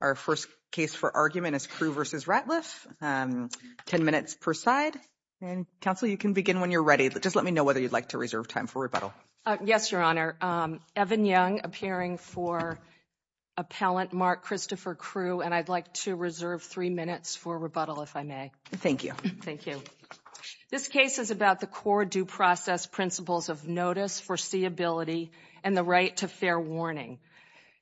Our first case for argument is Crewe v. Ratliff, 10 minutes per side, and counsel, you can begin when you're ready. Just let me know whether you'd like to reserve time for rebuttal. Yes, Your Honor. Evan Young, appearing for appellant Mark Christopher Crewe, and I'd like to reserve three minutes for rebuttal, if I may. Thank you. Thank you. This case is about the core due process principles of notice, foreseeability, and the right to fair warning.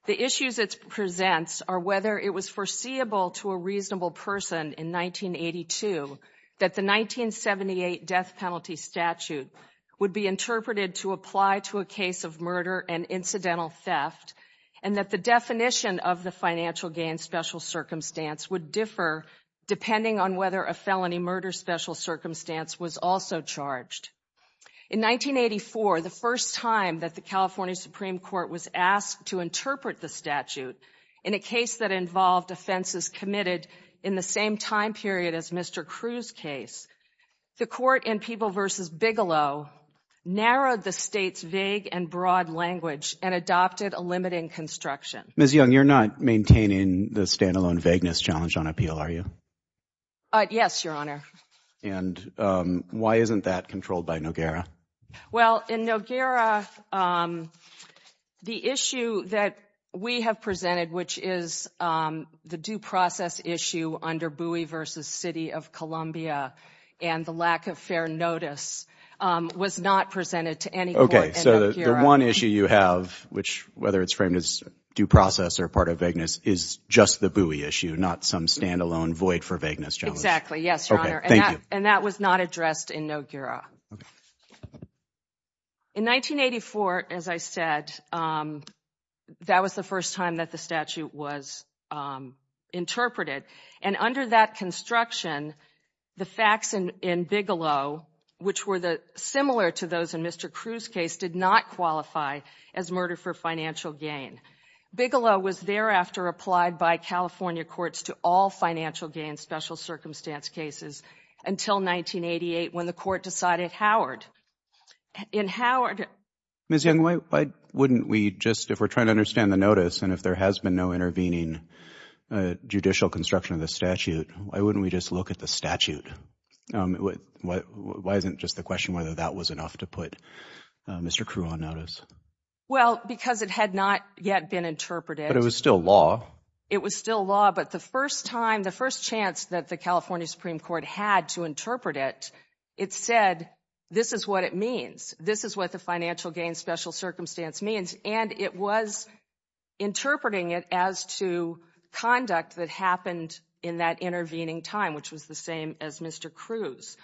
The issues it presents are whether it was foreseeable to a reasonable person in 1982 that the 1978 death penalty statute would be interpreted to apply to a case of murder and incidental theft, and that the definition of the financial gain special circumstance would differ depending on whether a felony murder special circumstance was also charged. In 1984, the first time that the California Supreme Court was asked to interpret the statute in a case that involved offenses committed in the same time period as Mr. Crewe's case, the court in Peeble v. Bigelow narrowed the state's vague and broad language and adopted a limiting construction. Ms. Young, you're not maintaining the standalone vagueness challenge on appeal, are you? Yes, Your Honor. And why isn't that controlled by Noguera? Well, in Noguera, the issue that we have presented, which is the due process issue under Bowie v. City of Columbia and the lack of fair notice, was not presented to any court in Noguera. Okay, so the one issue you have, which, whether it's framed as due process or part of vagueness, is just the Bowie issue, not some standalone void for vagueness challenge? Exactly, yes, Your Honor. And that was not addressed in Noguera. In 1984, as I said, that was the first time that the statute was interpreted. And under that construction, the facts in Bigelow, which were similar to those in Mr. Crewe's case, did not qualify as murder for financial gain. Bigelow was thereafter applied by California courts to all financial gain special circumstance cases until 1988, when the court decided Howard. In Howard— Ms. Young, why wouldn't we just, if we're trying to understand the notice and if there has been no intervening judicial construction of the statute, why wouldn't we just look at the statute? Why isn't just the question whether that was enough to put Mr. Crewe on notice? Well, because it had not yet been interpreted. But it was still law. It was still law, but the first time, the first chance that the California Supreme Court had to interpret it, it said, this is what it means. This is what the financial gain special circumstance means. And it was interpreting it as to conduct that happened in that intervening time, which was the same as Mr. Crewe's.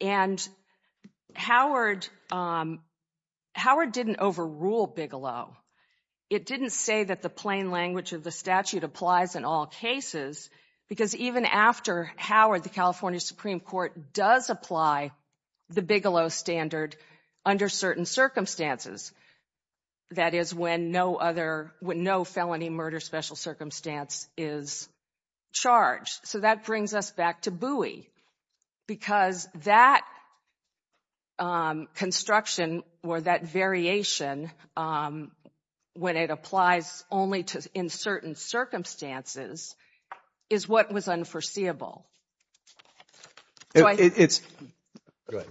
And Howard, Howard didn't overrule Bigelow. It didn't say that the plain language of the statute applies in all cases, because even after Howard, the California Supreme Court does apply the Bigelow standard under certain circumstances. That is when no other, when no felony murder special circumstance is charged. So that brings us back to Bowie, because that construction or that variation, when it applies only to in certain circumstances, is what was unforeseeable. It's. Go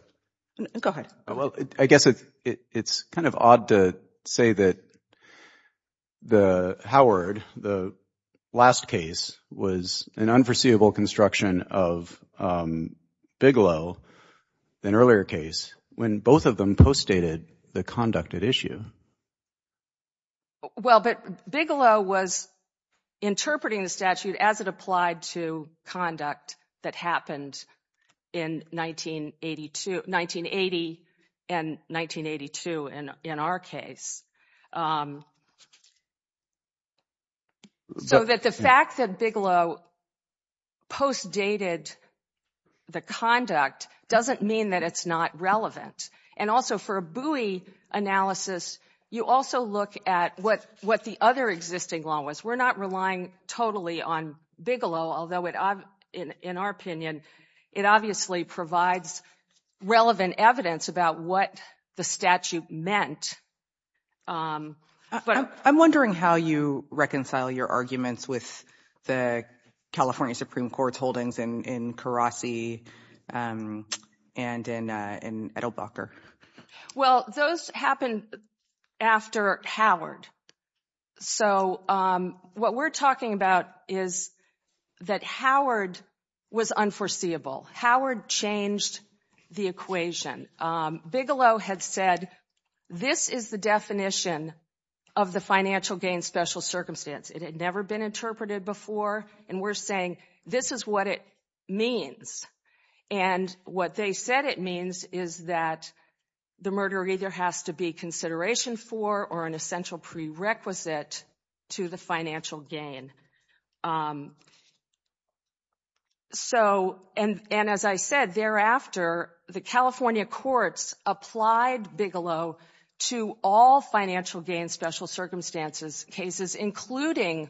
ahead. Well, I guess it's kind of odd to say that the Howard, the last case, was an unforeseeable construction of Bigelow, an earlier case, when both of them postdated the conducted issue. Well, but Bigelow was interpreting the statute as it applied to conduct that happened in 1980 and 1982 in our case. So that the fact that Bigelow postdated the conduct doesn't mean that it's not relevant. And also for a Bowie analysis, you also look at what the other existing law was. We're not relying totally on Bigelow, although it in our opinion, it obviously provides relevant evidence about what the statute meant. I'm wondering how you reconcile your arguments with the California Supreme Court's holdings in Karasi and in Edelbacher. Well, those happened after Howard. So what we're talking about is that Howard was unforeseeable. Howard changed the equation. Bigelow had said, this is the definition of the financial gain special circumstance. It had never been interpreted before. And we're saying, this is what it means. And what they said it means is that the murder either has to be consideration for or an essential prerequisite to the financial gain. And as I said, thereafter, the California courts applied Bigelow to all financial gain special circumstances cases, including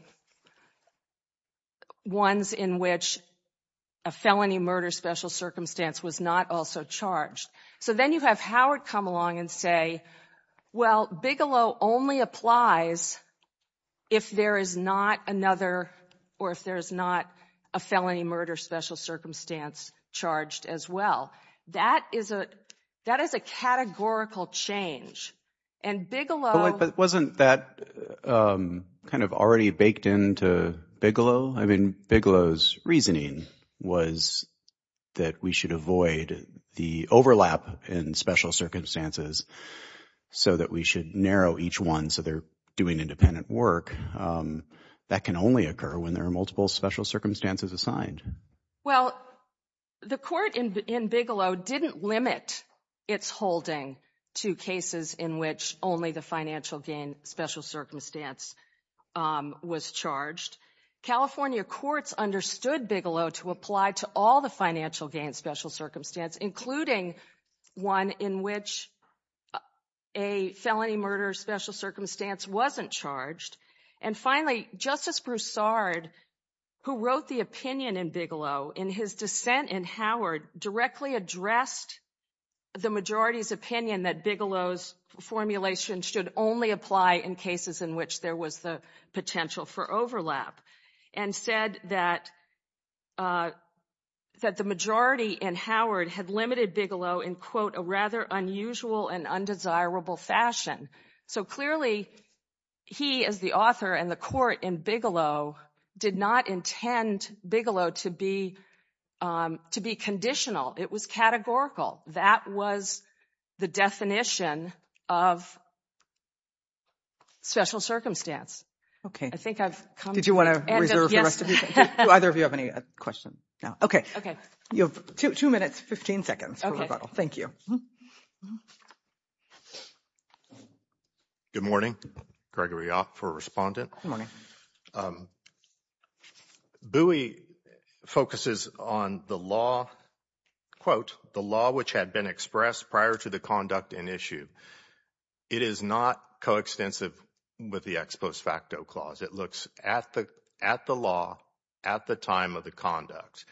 ones in which a felony murder special circumstance was not also charged. So then you have Howard come along and say, well, Bigelow only applies if there is not another or if there is not a felony murder special circumstance charged as well. That is a categorical change. And Bigelow... But wasn't that kind of already baked into Bigelow? I mean, Bigelow's reasoning was that we should avoid the overlap in special circumstances so that we should narrow each one so they're doing independent work. That can only occur when there are multiple special circumstances assigned. Well, the court in Bigelow didn't limit its holding to cases in which only the financial gain special circumstance was charged. California courts understood Bigelow to apply to all the financial gain special circumstance, including one in which a felony murder special circumstance wasn't charged. And finally, Justice Broussard, who wrote the opinion in Bigelow in his dissent in Howard directly addressed the majority's opinion that Bigelow's formulation should only apply in cases in which there was the potential for overlap and said that the majority in Howard had limited Bigelow in, quote, a rather unusual and undesirable fashion. So clearly, he as the author and the court in Bigelow did not intend Bigelow to be conditional. It was categorical. That was the definition of special circumstance. I think I've come to the end of, yes. Did you want to reserve the rest of your time? Do either of you have any questions now? Okay. Okay. You have two minutes, 15 seconds for rebuttal. Okay. Thank you. Good morning. Gregory Opp for Respondent. Good morning. Bowie focuses on the law, quote, the law which had been expressed prior to the conduct in issue. It is not coextensive with the ex post facto clause. It looks at the law at the time of the conduct.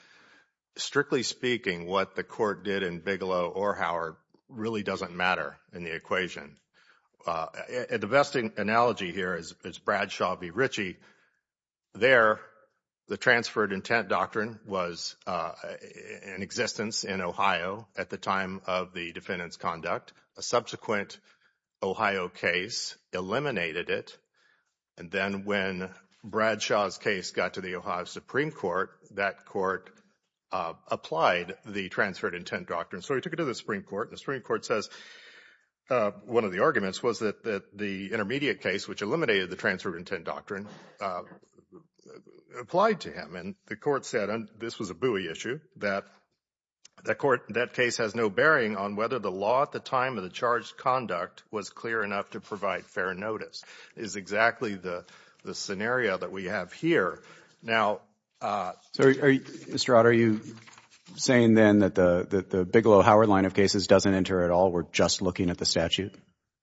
Strictly speaking, what the court did in Bigelow or Howard really doesn't matter in the equation. The best analogy here is Bradshaw v. Ritchie. There, the transferred intent doctrine was in existence in Ohio at the time of the defendant's A subsequent Ohio case eliminated it. And then when Bradshaw's case got to the Ohio Supreme Court, that court applied the transferred intent doctrine. So he took it to the Supreme Court. And the Supreme Court says one of the arguments was that the intermediate case, which eliminated the transferred intent doctrine, applied to him. And the court said, and this was a Bowie issue, that the court, that case has no bearing on whether the law at the time of the charged conduct was clear enough to provide fair notice is exactly the scenario that we have here. Now, Mr. Ott, are you saying then that the Bigelow-Howard line of cases doesn't enter at all? We're just looking at the statute?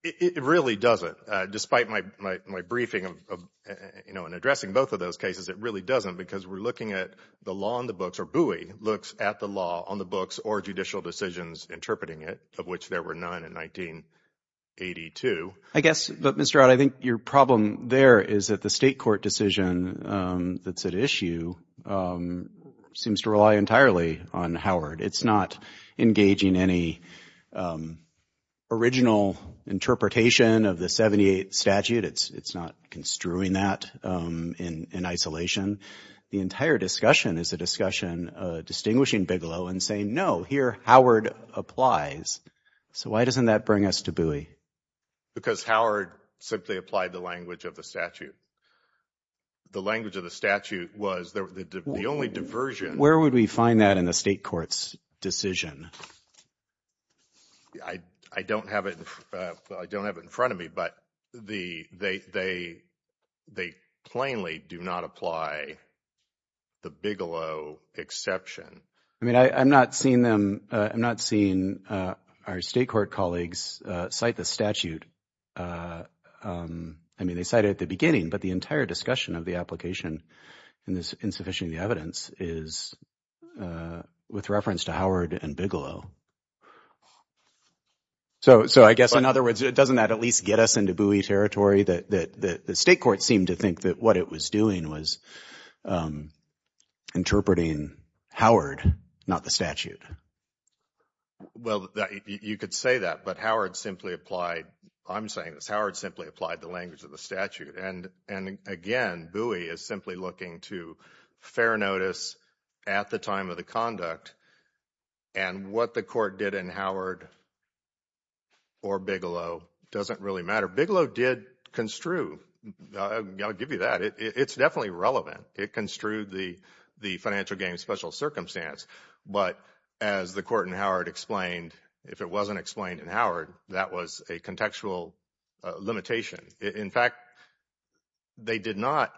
It really doesn't. Despite my briefing and addressing both of those cases, it really doesn't because we're looking at the law in the books, or Bowie looks at the law on the books or judicial decisions interpreting it, of which there were none in 1982. I guess, but Mr. Ott, I think your problem there is that the state court decision that's at issue seems to rely entirely on Howard. It's not engaging any original interpretation of the 78 statute. It's not construing that in isolation. The entire discussion is a discussion distinguishing Bigelow and saying, no, here, Howard applies. So why doesn't that bring us to Bowie? Because Howard simply applied the language of the statute. The language of the statute was the only diversion. Where would we find that in the state court's decision? I don't have it in front of me, but they plainly do not apply the Bigelow exception. I mean, I'm not seeing them, I'm not seeing our state court colleagues cite the statute. I mean, they cited at the beginning, but the entire discussion of the application in this insufficient evidence is with reference to Howard and Bigelow. So I guess in other words, it doesn't at least get us into Bowie territory that the state court seemed to think that what it was doing was interpreting Howard, not the statute. Well, you could say that, but Howard simply applied, I'm saying this, Howard simply applied the language of the statute. And again, Bowie is simply looking to fair notice at the time of the conduct. And what the court did in Howard or Bigelow doesn't really matter. Bigelow did construe, I'll give you that, it's definitely relevant. It construed the financial gain special circumstance. But as the court in Howard explained, if it wasn't explained in Howard, that was a contextual limitation. In fact, they did not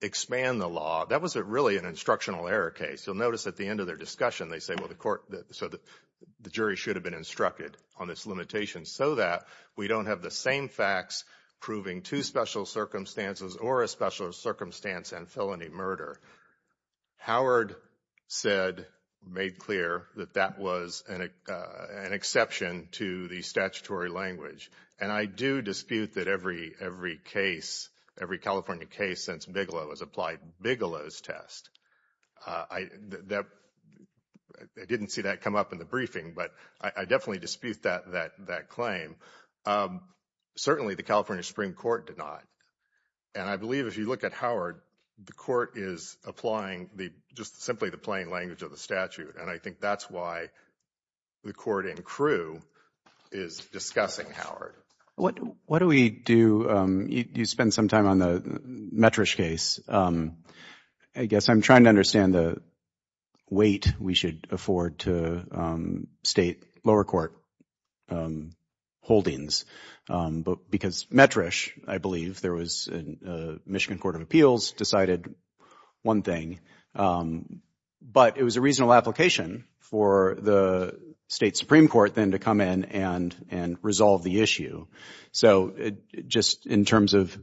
expand the law. That was really an instructional error case. You'll notice at the end of their discussion, they say, well, the court, so the jury should have been instructed on this limitation so that we don't have the same facts proving two special circumstances or a special circumstance and felony murder. Howard said, made clear that that was an exception to the statutory language. And I do dispute that every case, every California case since Bigelow has applied Bigelow's test. I didn't see that come up in the briefing, but I definitely dispute that claim. Certainly the California Supreme Court did not. And I believe if you look at Howard, the court is applying just simply the plain language of the statute. And I think that's why the court in Crewe is discussing Howard. What do we do? You spend some time on the Metrish case. I guess I'm trying to understand the weight we should afford to state lower court holdings. Because Metrish, I believe, there was a Michigan Court of Appeals decided one thing. But it was a reasonable application for the state Supreme Court then to come in and resolve the issue. So just in terms of,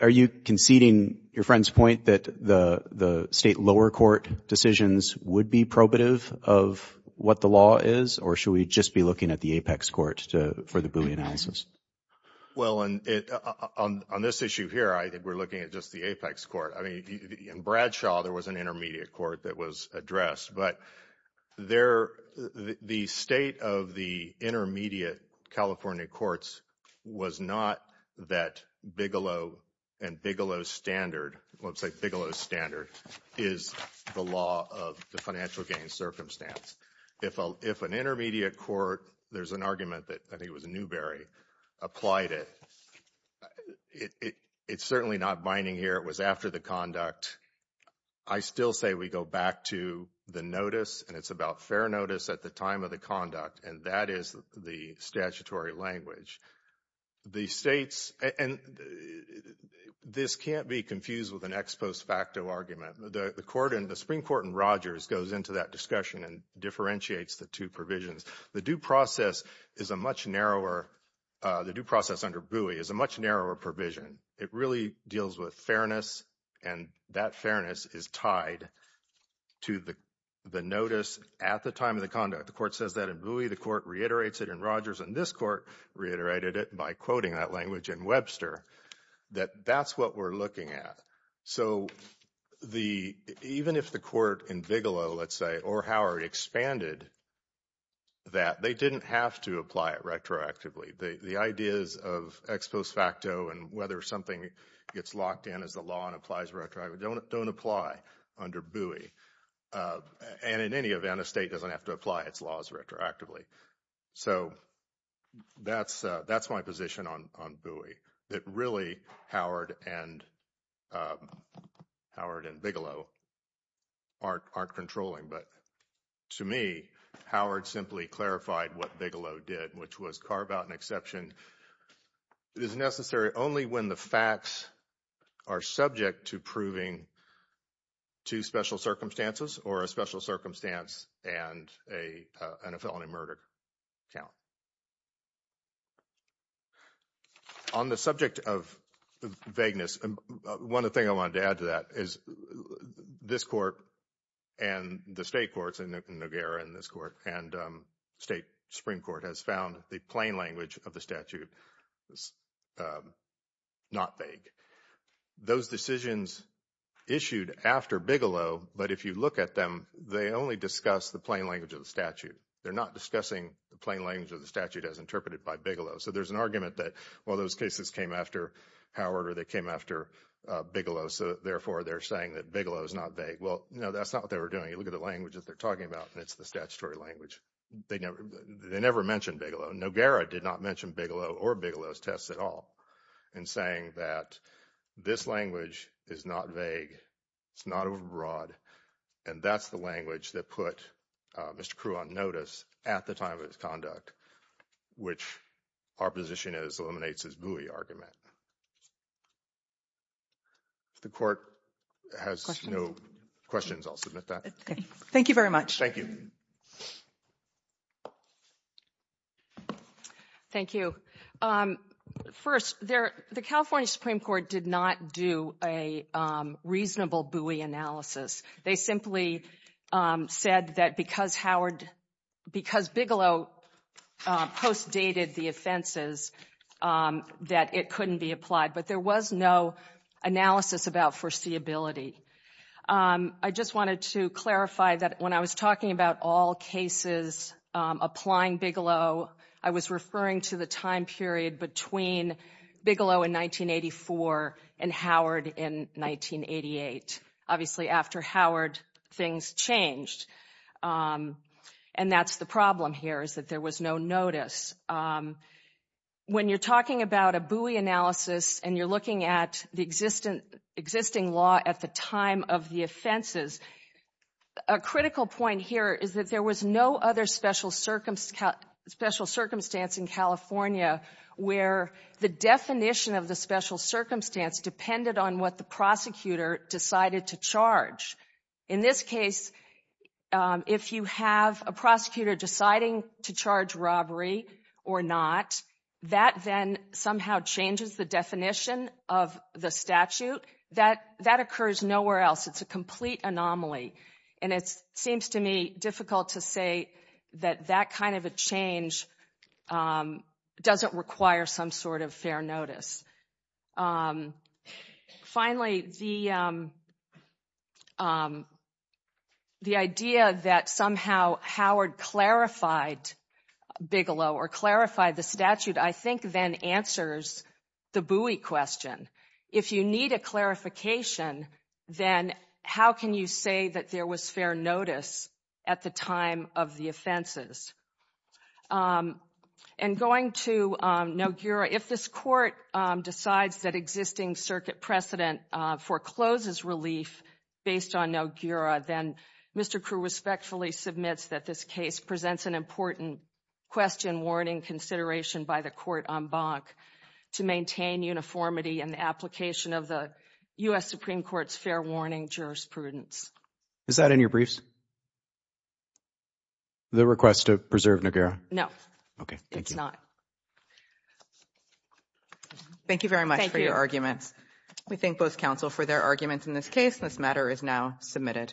are you conceding your friend's point that the state lower court decisions would be probative of what the law is? Or should we just be looking at the apex court for the Boolean analysis? Well on this issue here, I think we're looking at just the apex court. I mean, in Bradshaw, there was an intermediate court that was addressed. But the state of the intermediate California courts was not that Bigelow and Bigelow's standard, let's say Bigelow's standard, is the law of the financial gain circumstance. If an intermediate court, there's an argument that I think it was Newberry, applied it. It's certainly not binding here. It was after the conduct. I still say we go back to the notice and it's about fair notice at the time of the conduct. And that is the statutory language. The states, and this can't be confused with an ex post facto argument. The Supreme Court in Rogers goes into that discussion and differentiates the two provisions. The due process is a much narrower, the due process under Bowie is a much narrower provision. It really deals with fairness and that fairness is tied to the notice at the time of the conduct. The court says that in Bowie, the court reiterates it in Rogers, and this court reiterated it by quoting that language in Webster, that that's what we're looking at. So even if the court in Bigelow, let's say, or Howard expanded that, they didn't have to apply it retroactively. The ideas of ex post facto and whether something gets locked in as the law and applies retroactively don't apply under Bowie. And in any event, a state doesn't have to apply its laws retroactively. So that's my position on Bowie, that really Howard and Bigelow aren't controlling. But to me, Howard simply clarified what Bigelow did, which was carve out an exception. It is necessary only when the facts are subject to proving two special circumstances or a special circumstance and a felony murder count. On the subject of vagueness, one of the things I wanted to add to that is this court and the state courts in Noguera and this court and state Supreme Court has found the plain language of the statute not vague. Those decisions issued after Bigelow, but if you look at them, they only discuss the plain language of the statute. They're not discussing the plain language of the statute as interpreted by Bigelow. So there's an argument that, well, those cases came after Howard or they came after Bigelow, so therefore they're saying that Bigelow is not vague. Well, no, that's not what they were doing. You look at the language that they're talking about and it's the statutory language. They never mentioned Bigelow. Noguera did not mention Bigelow or Bigelow's tests at all in saying that this language is not vague, it's not over-broad, and that's the language that put Mr. Crew on notice at the time of his conduct, which our position is eliminates his buoy argument. The court has no questions. I'll submit that. Thank you very much. Thank you. Thank you. First, the California Supreme Court did not do a reasonable buoy analysis. They simply said that because Howard, because Bigelow postdated the offenses, that it couldn't be applied. But there was no analysis about foreseeability. I just wanted to clarify that when I was talking about all cases applying Bigelow, I was referring to the time period between Bigelow in 1984 and Howard in 1988. Obviously, after Howard, things changed. And that's the problem here is that there was no notice. When you're talking about a buoy analysis and you're looking at the existing law at the time of the offenses, a critical point here is that there was no other special circumstance in California where the definition of the special circumstance depended on what the prosecutor decided to charge. In this case, if you have a prosecutor deciding to charge robbery or not, that then somehow changes the definition of the statute. That occurs nowhere else. It's a complete anomaly. And it seems to me difficult to say that that kind of a change doesn't require some sort of fair notice. Finally, the idea that somehow Howard clarified Bigelow or clarified the statute, I think then answers the buoy question. If you need a clarification, then how can you say that there was fair notice at the time of the offenses? And going to Nogura, if this court decides that existing circuit precedent forecloses relief based on Nogura, then Mr. Krueh respectfully submits that this case presents an important question warning consideration by the court en banc to maintain uniformity in the application of the U.S. Supreme Court's fair warning jurisprudence. Is that in your briefs? The request to preserve Nogura? No. Okay. Thank you. It's not. Thank you very much for your arguments. We thank both counsel for their arguments in this case. This matter is now submitted.